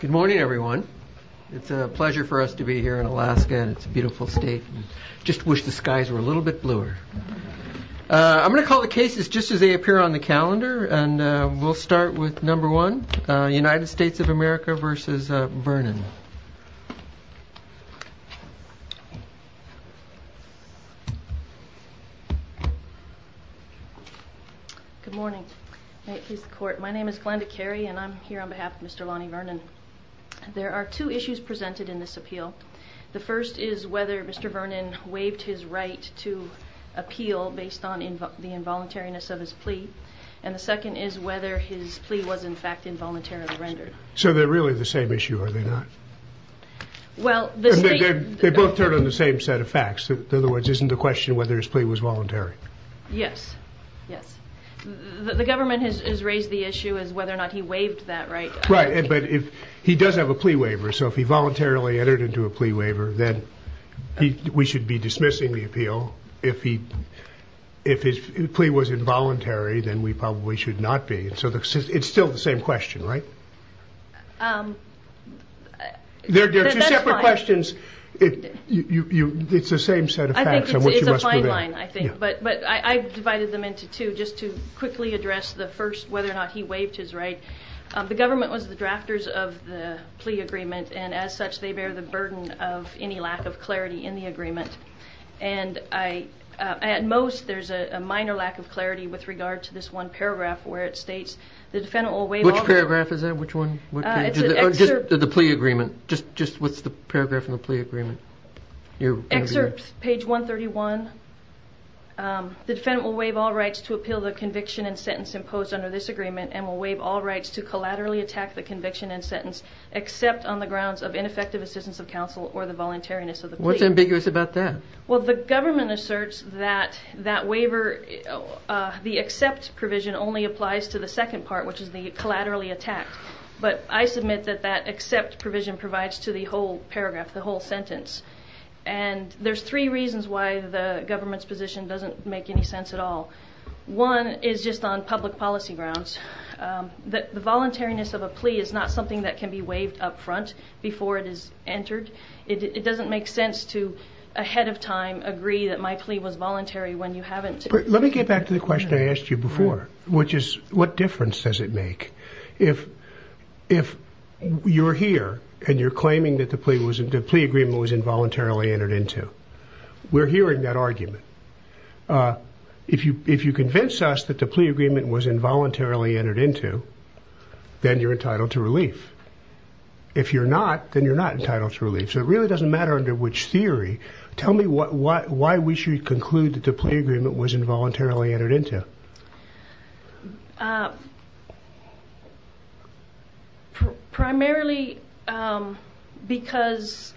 Good morning everyone. It's a pleasure for us to be here in Alaska and it's a beautiful state. Just wish the skies were a little bit bluer. I'm gonna call the cases just as they appear on the calendar and we'll start with number one United States of America v. Vernon Good morning. My name is Glenda Carey and I'm here on behalf of Mr. Lonnie Vernon. There are two issues presented in this appeal. The first is whether Mr. Vernon waived his right to appeal based on the involuntariness of his plea and the second is whether his plea was in fact involuntarily rendered. So they're really the same issue are they not? They both turn on the same set of facts, in other words isn't the question whether his plea was voluntary? Yes. The government has raised the issue as whether or not he waived that right. Right, but if he does have a plea waiver so if he voluntarily entered into a plea waiver then we should be dismissing the appeal. If his plea was involuntary then we probably should not be. So it's still the same question right? There are two separate questions. It's the same set of facts. I think it's a fine line. But I divided them into two just to quickly address the first whether or not he waived his right. The government was the drafters of the plea agreement and as such they bear the burden of any lack of clarity in the agreement and at most there's a minor lack of clarity with regard to this one the defendant will waive all rights to appeal the conviction and sentence imposed under this agreement and will waive all rights to collaterally attack the conviction and sentence except on the grounds of ineffective assistance of counsel or the voluntariness of the plea. What's ambiguous about that? Well the government provision only applies to the second part which is the collaterally attack. But I submit that that except provision provides to the whole paragraph, the whole sentence. And there's three reasons why the government's position doesn't make any sense at all. One is just on public policy grounds. The voluntariness of a plea is not something that can be waived up front before it is entered. It doesn't make sense to ahead of time agree that my plea was voluntary when you haven't. Let me get back to the question I asked you before, which is what difference does it make if you're here and you're claiming that the plea agreement was involuntarily entered into. We're hearing that argument. If you convince us that the plea agreement was involuntarily entered into, then you're entitled to relief. If you're not, then you're not entitled to relief. So it really doesn't matter under which theory. Tell me why we should conclude that the plea agreement was involuntarily entered into. Primarily because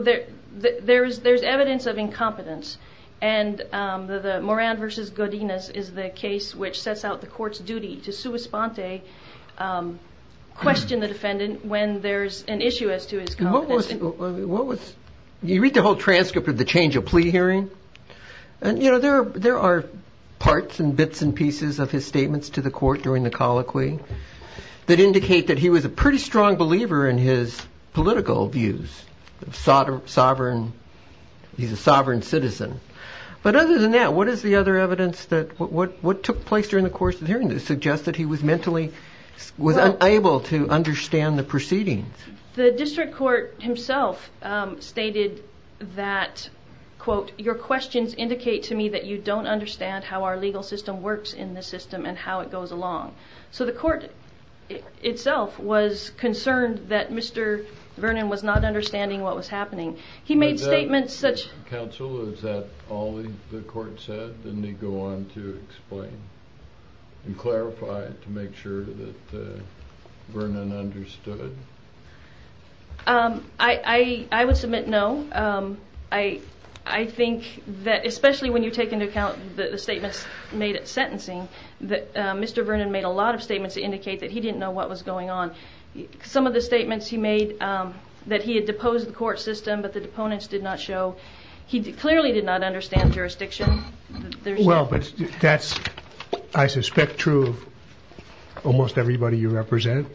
there's evidence of incompetence. And the Moran v. Godinez is the case which sets out the court's duty to sua sponte, question the defendant when there's an issue as to his competence. You read the whole transcript of the change of plea hearing. There are parts and bits and pieces of his statements to the court during the colloquy that indicate that he was a pretty strong believer in his political views. He's a sovereign citizen. But other than that, what is the other evidence that, what took place during the course of the hearing that suggests that he was mentally, was unable to understand the proceedings? The district court himself stated that, quote, your questions indicate to me that you don't understand how our legal system works in this system and how it goes along. So the court itself was concerned that Mr. Vernon was not understanding what was happening. He made statements such Counsel, is that all the court said? Didn't he go on to explain and clarify to make sure that Vernon understood? Well, but that's, I suspect, true of almost everybody you represent.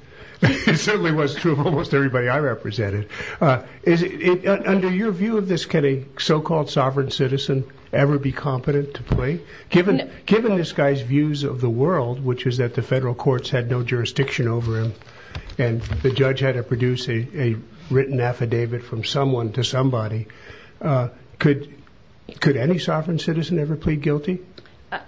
It certainly was true of almost everybody I represented. Under your view of this, can a so-called sovereign citizen ever be competent to plea? Given this guy's views of the world, which is that the federal courts had no jurisdiction over him and the judge had to produce a written affidavit from someone to somebody, could any sovereign citizen ever plead guilty?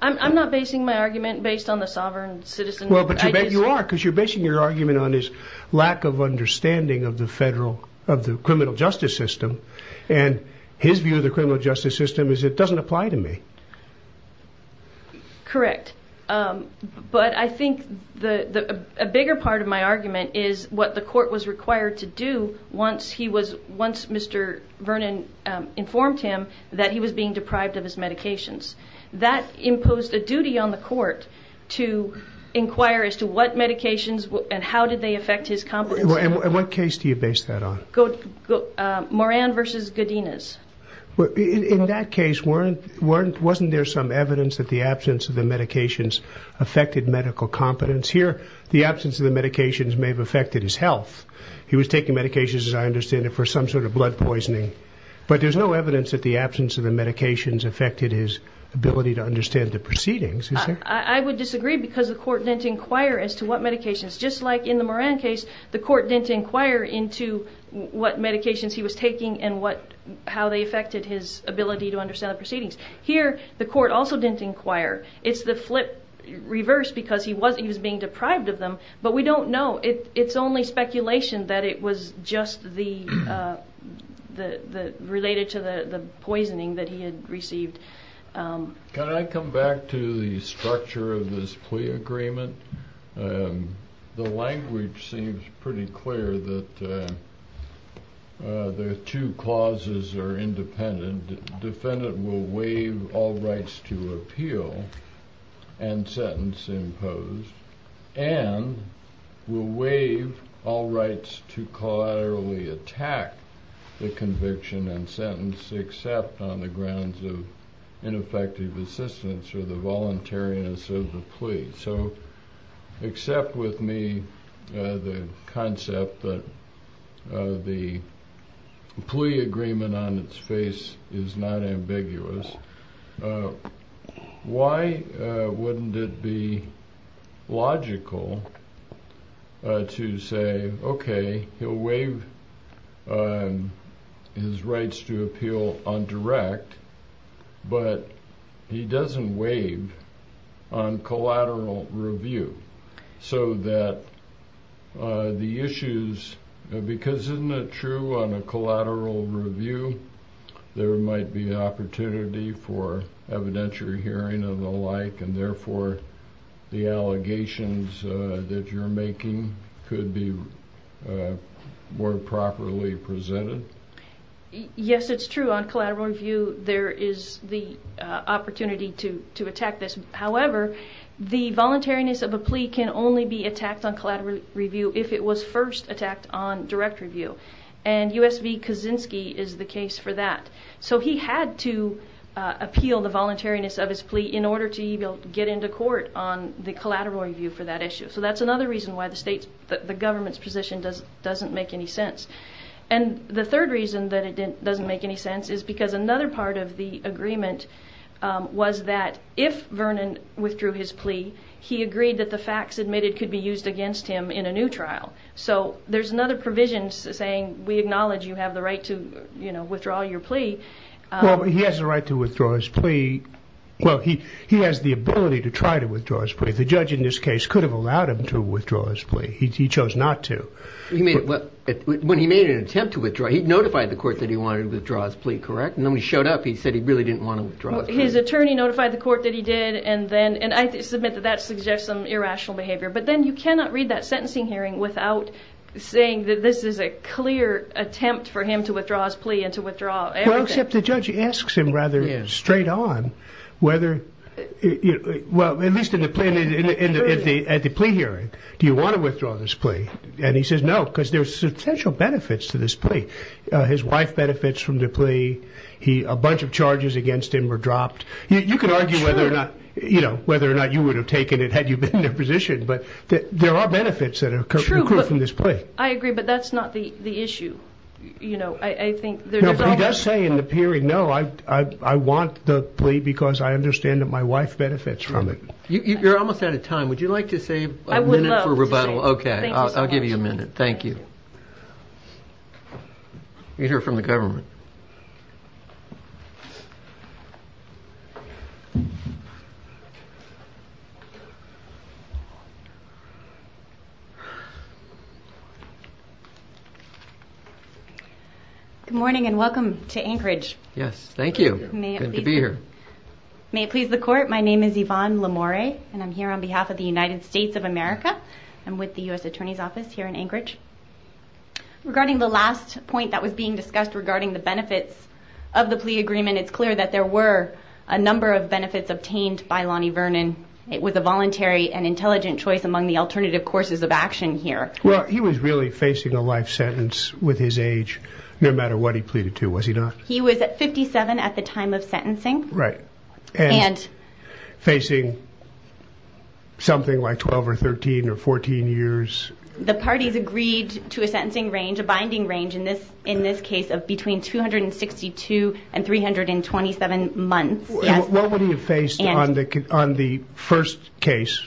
I'm not basing my argument based on the sovereign citizen. Well, but you are, because you're basing your argument on his lack of understanding of the federal, of the criminal justice system. And his view of the criminal justice system is, it doesn't apply to me. Correct. But I think a bigger part of my argument is what the court was required to do once he was, once Mr. Vernon informed him that he was being deprived of his medications. That imposed a duty on the court to inquire as to what medications and how did they affect his competency. And what case do you base that on? Moran versus Godinez. In that case, wasn't there some evidence that the absence of the medications affected medical competence? Here, the absence of the medications may have affected his health. He was taking medications, as I understand it, for some sort of blood poisoning. But there's no evidence that the absence of the medications affected his ability to understand the proceedings. I would disagree because the court didn't inquire as to what medications. Just like in the Moran case, the court didn't inquire into what medications he was taking and what, how they affected his ability to understand the proceedings. Here, the court also didn't inquire. It's the flip reverse because he was being deprived of them, but we don't know. It's only speculation that it was just the, related to the poisoning that he had received. Can I come back to the structure of this plea agreement? The language seems pretty clear that the two clauses are independent. The defendant will waive all rights to appeal and sentence imposed and will waive all rights to collaterally attack the conviction and sentence except on the grounds of ineffective assistance or the voluntariness of the plea. So, except with me, the concept that the plea agreement on its face is not ambiguous, why wouldn't it be logical to say, okay, he'll waive his rights to appeal on direct, but he doesn't waive on collateral review so that the issues, because isn't it true on a collateral review, there might be opportunity for evidentiary hearing and the like and therefore the allegations that you're making could be more properly presented? Yes, it's true. On collateral review, there is the opportunity to attack this. However, the voluntariness of a plea can only be attacked on collateral review if it was first attacked on direct review. And U.S. v. Kaczynski is the case for that. So he had to appeal the voluntariness of his plea in order to even get into court on the collateral review for that issue. So that's another reason why the government's position doesn't make any sense. And the third reason that it doesn't make any sense is because another part of the agreement was that if Vernon withdrew his plea, he agreed that the facts admitted could be used against him in a new trial. So there's another provision saying we acknowledge you have the right to withdraw your plea. Well, he has the right to withdraw his plea. Well, he has the ability to try to withdraw his plea. The judge in this case could have allowed him to withdraw his plea. He chose not to. When he made an attempt to withdraw, he notified the court that he wanted to withdraw his plea, correct? And then when he showed up, he said he really didn't want to withdraw his plea. His attorney notified the court that he did, and I submit that that suggests some irrational behavior. But then you cannot read that sentencing hearing without saying that this is a clear attempt for him to withdraw his plea and to withdraw everything. Except the judge asks him rather straight on whether, at least at the plea hearing, do you want to withdraw this plea? And he says no, because there's substantial benefits to this plea. His wife benefits from the plea. A bunch of charges against him were dropped. You could argue whether or not you would have taken it had you been in their position, but there are benefits that are accrued from this plea. I agree, but that's not the issue. He does say in the hearing, no, I want the plea because I understand that my wife benefits from it. You're almost out of time. Would you like to save a minute for rebuttal? Okay, I'll give you a minute. Thank you. Good morning, and welcome to Anchorage. Yes, thank you. Good to be here. May it please the court, my name is Yvonne Lamore, and I'm here on behalf of the United States of America. I'm with the U.S. Attorney's Office here in Anchorage. Regarding the last point that was being discussed regarding the benefits of the plea agreement, it's clear that there were a number of benefits obtained by Lonnie Vernon. It was a voluntary and intelligent choice among the alternative courses of action here. He was really facing a life sentence with his age, no matter what he pleaded to, was he not? He was 57 at the time of sentencing. And facing something like 12 or 13 or 14 years. The parties agreed to a sentencing range, a binding range, in this case of between 262 and 327 months. What would he have faced on the first case,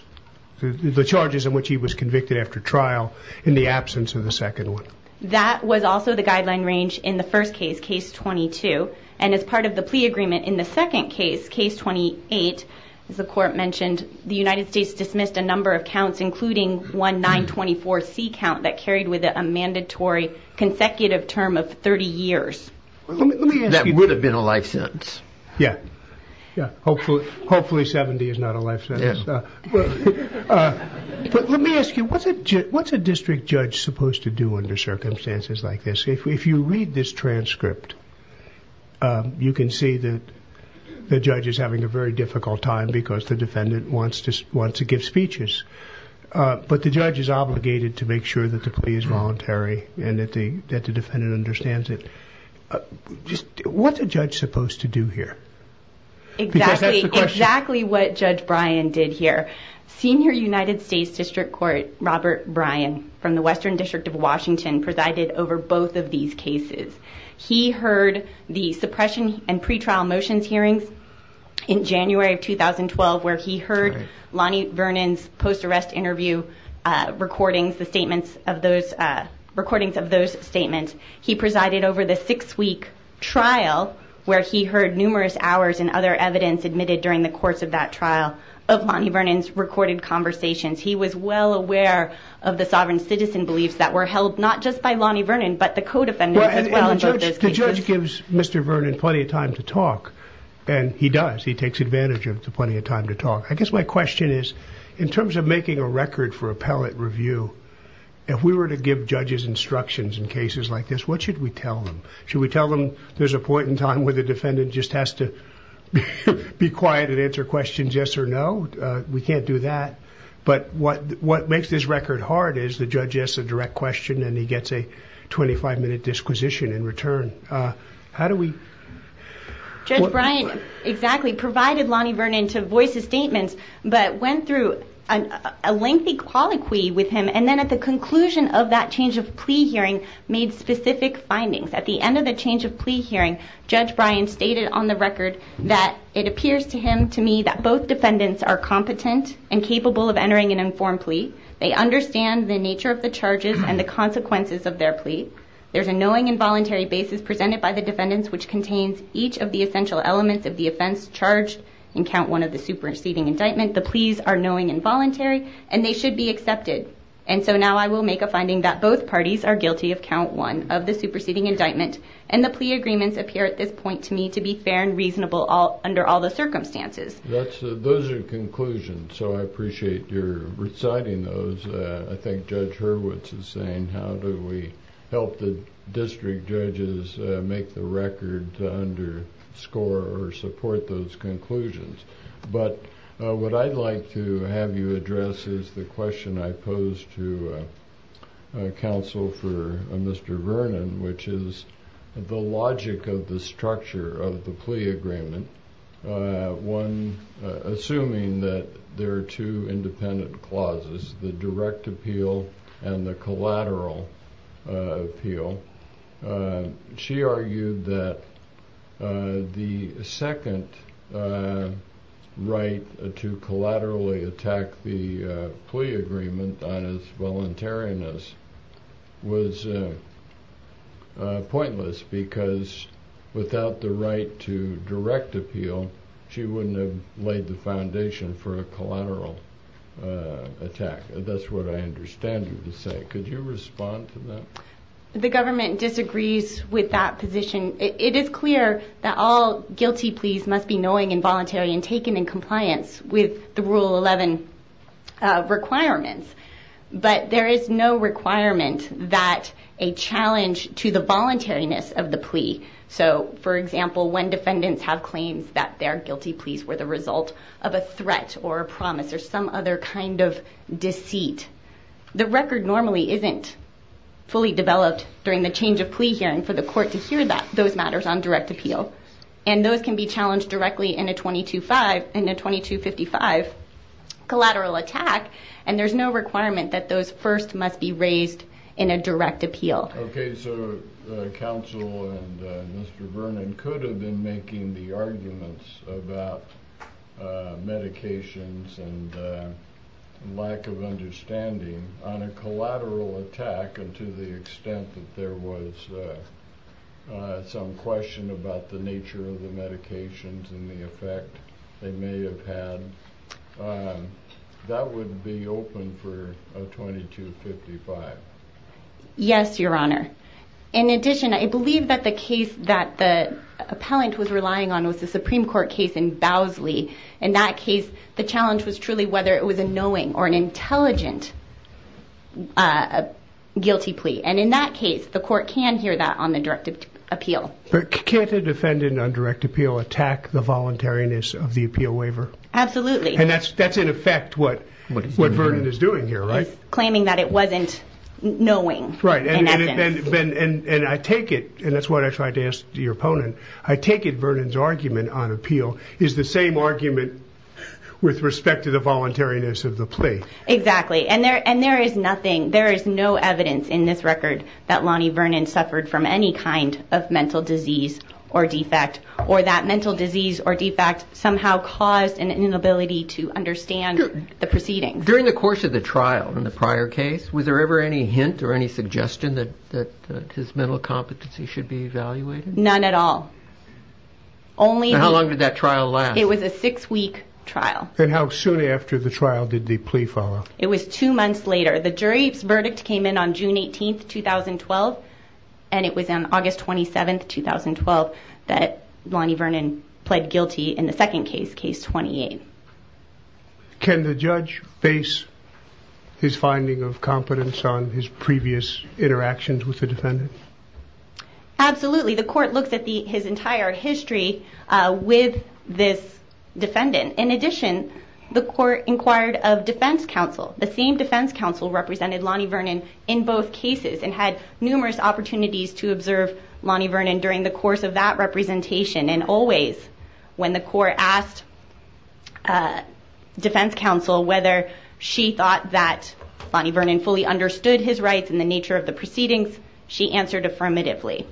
the charges in which he was convicted after trial, in the absence of the second one? That was also the guideline range in the first case, case 22. And as part of the plea agreement in the second case, case 28, as the court mentioned, the United States dismissed a number of counts, including one 924C count that carried with it a mandatory consecutive term of 30 years. That would have been a life sentence. Hopefully 70 is not a life sentence. But let me ask you, what's a district judge supposed to do under circumstances like this? If you read this transcript, you can see that the judge is having a very difficult time because the defendant wants to give speeches. But the judge is obligated to make sure that the plea is voluntary and that the defendant understands it. What's a judge supposed to do here? Exactly what Judge Bryan did here. Senior United States District Court Robert Bryan from the Western District of Washington presided over both of these cases. He heard the suppression and pretrial motions hearings in January of 2012, where he heard Lonnie Vernon's post-arrest interview recordings, the statements of those, recordings of those statements. He presided over the six-week trial where he heard numerous hours and other evidence admitted during the course of that trial of Lonnie Vernon's recorded conversations. He was well aware of the sovereign citizen beliefs that were held not just by Lonnie Vernon, but the co-defendants as well. The judge gives Mr. Vernon plenty of time to talk, and he does. He takes advantage of plenty of time to talk. I guess my question is, in terms of making a record for appellate review, if we were to give judges instructions in cases like this, what should we tell them? Should we tell them there's a point in time where the defendant just has to be quiet and answer questions yes or no? We can't do that. But what makes this record hard is the judge asks a direct question, and he gets a 25-minute disquisition in return. How do we... At the end of the change of plea hearing, Judge Bryan stated on the record that it appears to him, to me, that both defendants are competent and capable of entering an informed plea. They understand the nature of the charges and the consequences of their plea. There's a knowing and voluntary basis presented by the defendants, which contains each of the essential elements of the offense charged in count one of the superseding indictment. The pleas are knowing and voluntary, and they should be accepted. And so now I will make a finding that both parties are guilty of count one of the superseding indictment, and the plea agreements appear at this point to me to be fair and reasonable under all the circumstances. Those are conclusions, so I appreciate your reciting those. I think Judge Hurwitz is saying, how do we help the district judges make the record to underscore or support those conclusions? But what I'd like to have you address is the question I posed to counsel for Mr. Vernon, which is the logic of the structure of the plea agreement. One, assuming that there are two independent clauses, the direct appeal and the collateral appeal. She argued that the second right to collaterally attack the plea agreement on its voluntariness was pointless because without the right to direct appeal, she wouldn't have laid the foundation for a collateral attack. That's what I understand you to say. Could you respond to that? The government disagrees with that position. It is clear that all guilty pleas must be knowing and voluntary and taken in compliance with the Rule 11 requirements. But there is no requirement that a challenge to the voluntariness of the plea. For example, when defendants have claims that their guilty pleas were the result of a threat or a promise or some other kind of deceit, the record normally isn't fully developed during the change of plea hearing for the court to hear those matters on direct appeal. Those can be challenged directly in a 2255 collateral attack, and there's no requirement that those first must be raised in a direct appeal. Okay, so counsel and Mr. Vernon could have been making the arguments about medications and lack of understanding on a collateral attack and to the extent that there was some question about the nature of the medications and the effect they may have had. That would be open for a 2255. Yes, Your Honor. In addition, I believe that the case that the appellant was relying on was the Supreme Court case in Bowsley. In that case, the challenge was truly whether it was a knowing or an intelligent guilty plea. And in that case, the court can hear that on the direct appeal. But can't a defendant on direct appeal attack the voluntariness of the appeal waiver? Absolutely. And that's in effect what Vernon is doing here, right? He's claiming that it wasn't knowing. Right. And I take it, and that's what I tried to ask your opponent, I take it Vernon's argument on appeal is the same argument with respect to the voluntariness of the plea. Exactly. And there is nothing, there is no evidence in this record that Lonnie Vernon suffered from any kind of mental disease or defect, or that mental disease or defect somehow caused an inability to understand the proceedings. During the course of the trial in the prior case, was there ever any hint or any suggestion that his mental competency should be evaluated? None at all. How long did that trial last? It was a six-week trial. And how soon after the trial did the plea follow? It was two months later. The jury's verdict came in on June 18, 2012, and it was on August 27, 2012, that Lonnie Vernon pled guilty in the second case, case 28. Can the judge base his finding of competence on his previous interactions with the defendant? Absolutely. The court looks at his entire history with this defendant. In addition, the court inquired of defense counsel. The same defense counsel represented Lonnie Vernon in both cases and had numerous opportunities to observe Lonnie Vernon during the course of that representation. And always, when the court asked defense counsel whether she thought that Lonnie Vernon fully understood his rights and the nature of the proceedings, she answered affirmatively.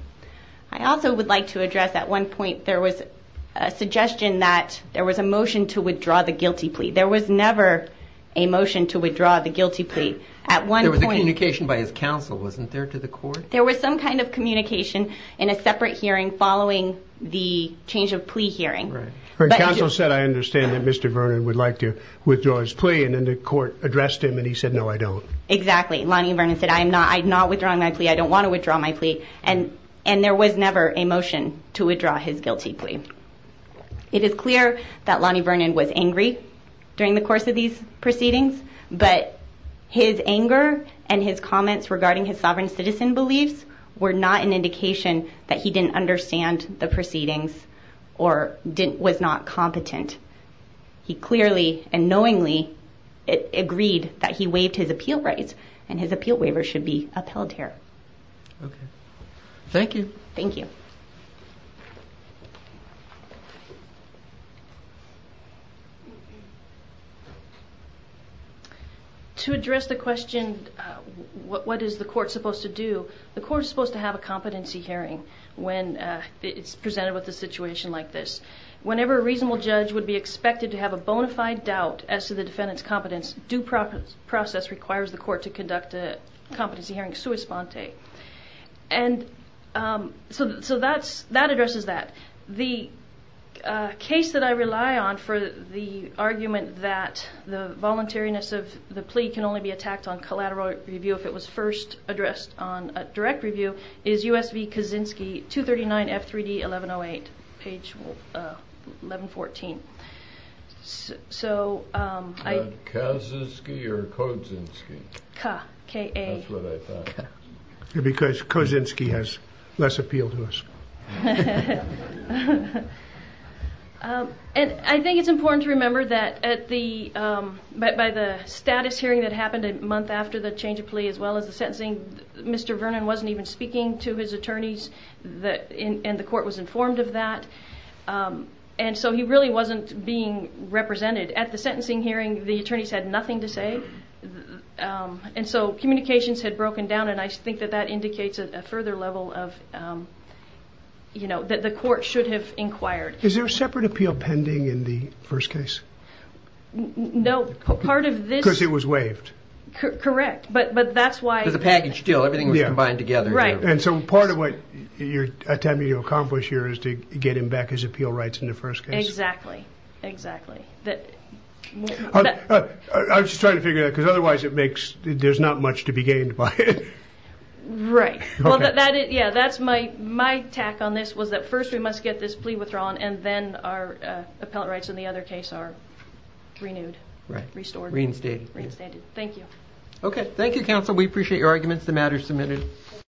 I also would like to address, at one point, there was a suggestion that there was a motion to withdraw the guilty plea. There was never a motion to withdraw the guilty plea. There was a communication by his counsel, wasn't there, to the court? There was some kind of communication in a separate hearing following the change of plea hearing. Her counsel said, I understand that Mr. Vernon would like to withdraw his plea, and then the court addressed him and he said, no, I don't. Exactly. Lonnie Vernon said, I'm not withdrawing my plea. I don't want to withdraw my plea. And there was never a motion to withdraw his guilty plea. It is clear that Lonnie Vernon was angry during the course of these proceedings, but his anger and his comments regarding his sovereign citizen beliefs were not an indication that he didn't understand the proceedings or was not competent. He clearly and knowingly agreed that he waived his appeal rights and his appeal waiver should be upheld here. Thank you. Thank you. To address the question, what is the court supposed to do, the court is supposed to have a competency hearing when it's presented with a situation like this. Whenever a reasonable judge would be expected to have a bona fide doubt as to the defendant's competence, due process requires the court to conduct a competency hearing sua sponte. And so that addresses that. The case that I rely on for the argument that the voluntariness of the plea can only be attacked on collateral review if it was first addressed on a direct review is U.S.V. Kaczynski, 239 F3D 1108, page 1114. Kaczynski or Kozynski? K, K-A. That's what I thought. Because Kozynski has less appeal to us. And I think it's important to remember that by the status hearing that happened a month after the change of plea as well as the sentencing, Mr. Vernon wasn't even speaking to his attorneys and the court was informed of that. And so he really wasn't being represented. At the sentencing hearing the attorneys had nothing to say. And so communications had broken down and I think that that indicates a further level of, you know, that the court should have inquired. Is there a separate appeal pending in the first case? No, part of this... Because it was waived. Correct, but that's why... Because the package deal, everything was combined together. Right. And so part of what you're attempting to accomplish here is to get him back his appeal rights in the first case. Exactly, exactly. I was just trying to figure that out because otherwise it makes... there's not much to be gained by it. Right. Okay. Yeah, that's my tack on this was that first we must get this plea withdrawn and then our appellate rights in the other case are renewed. Right. Restored. Reinstated. Reinstated. Thank you. Okay, thank you, counsel. We appreciate your arguments. The matter is submitted.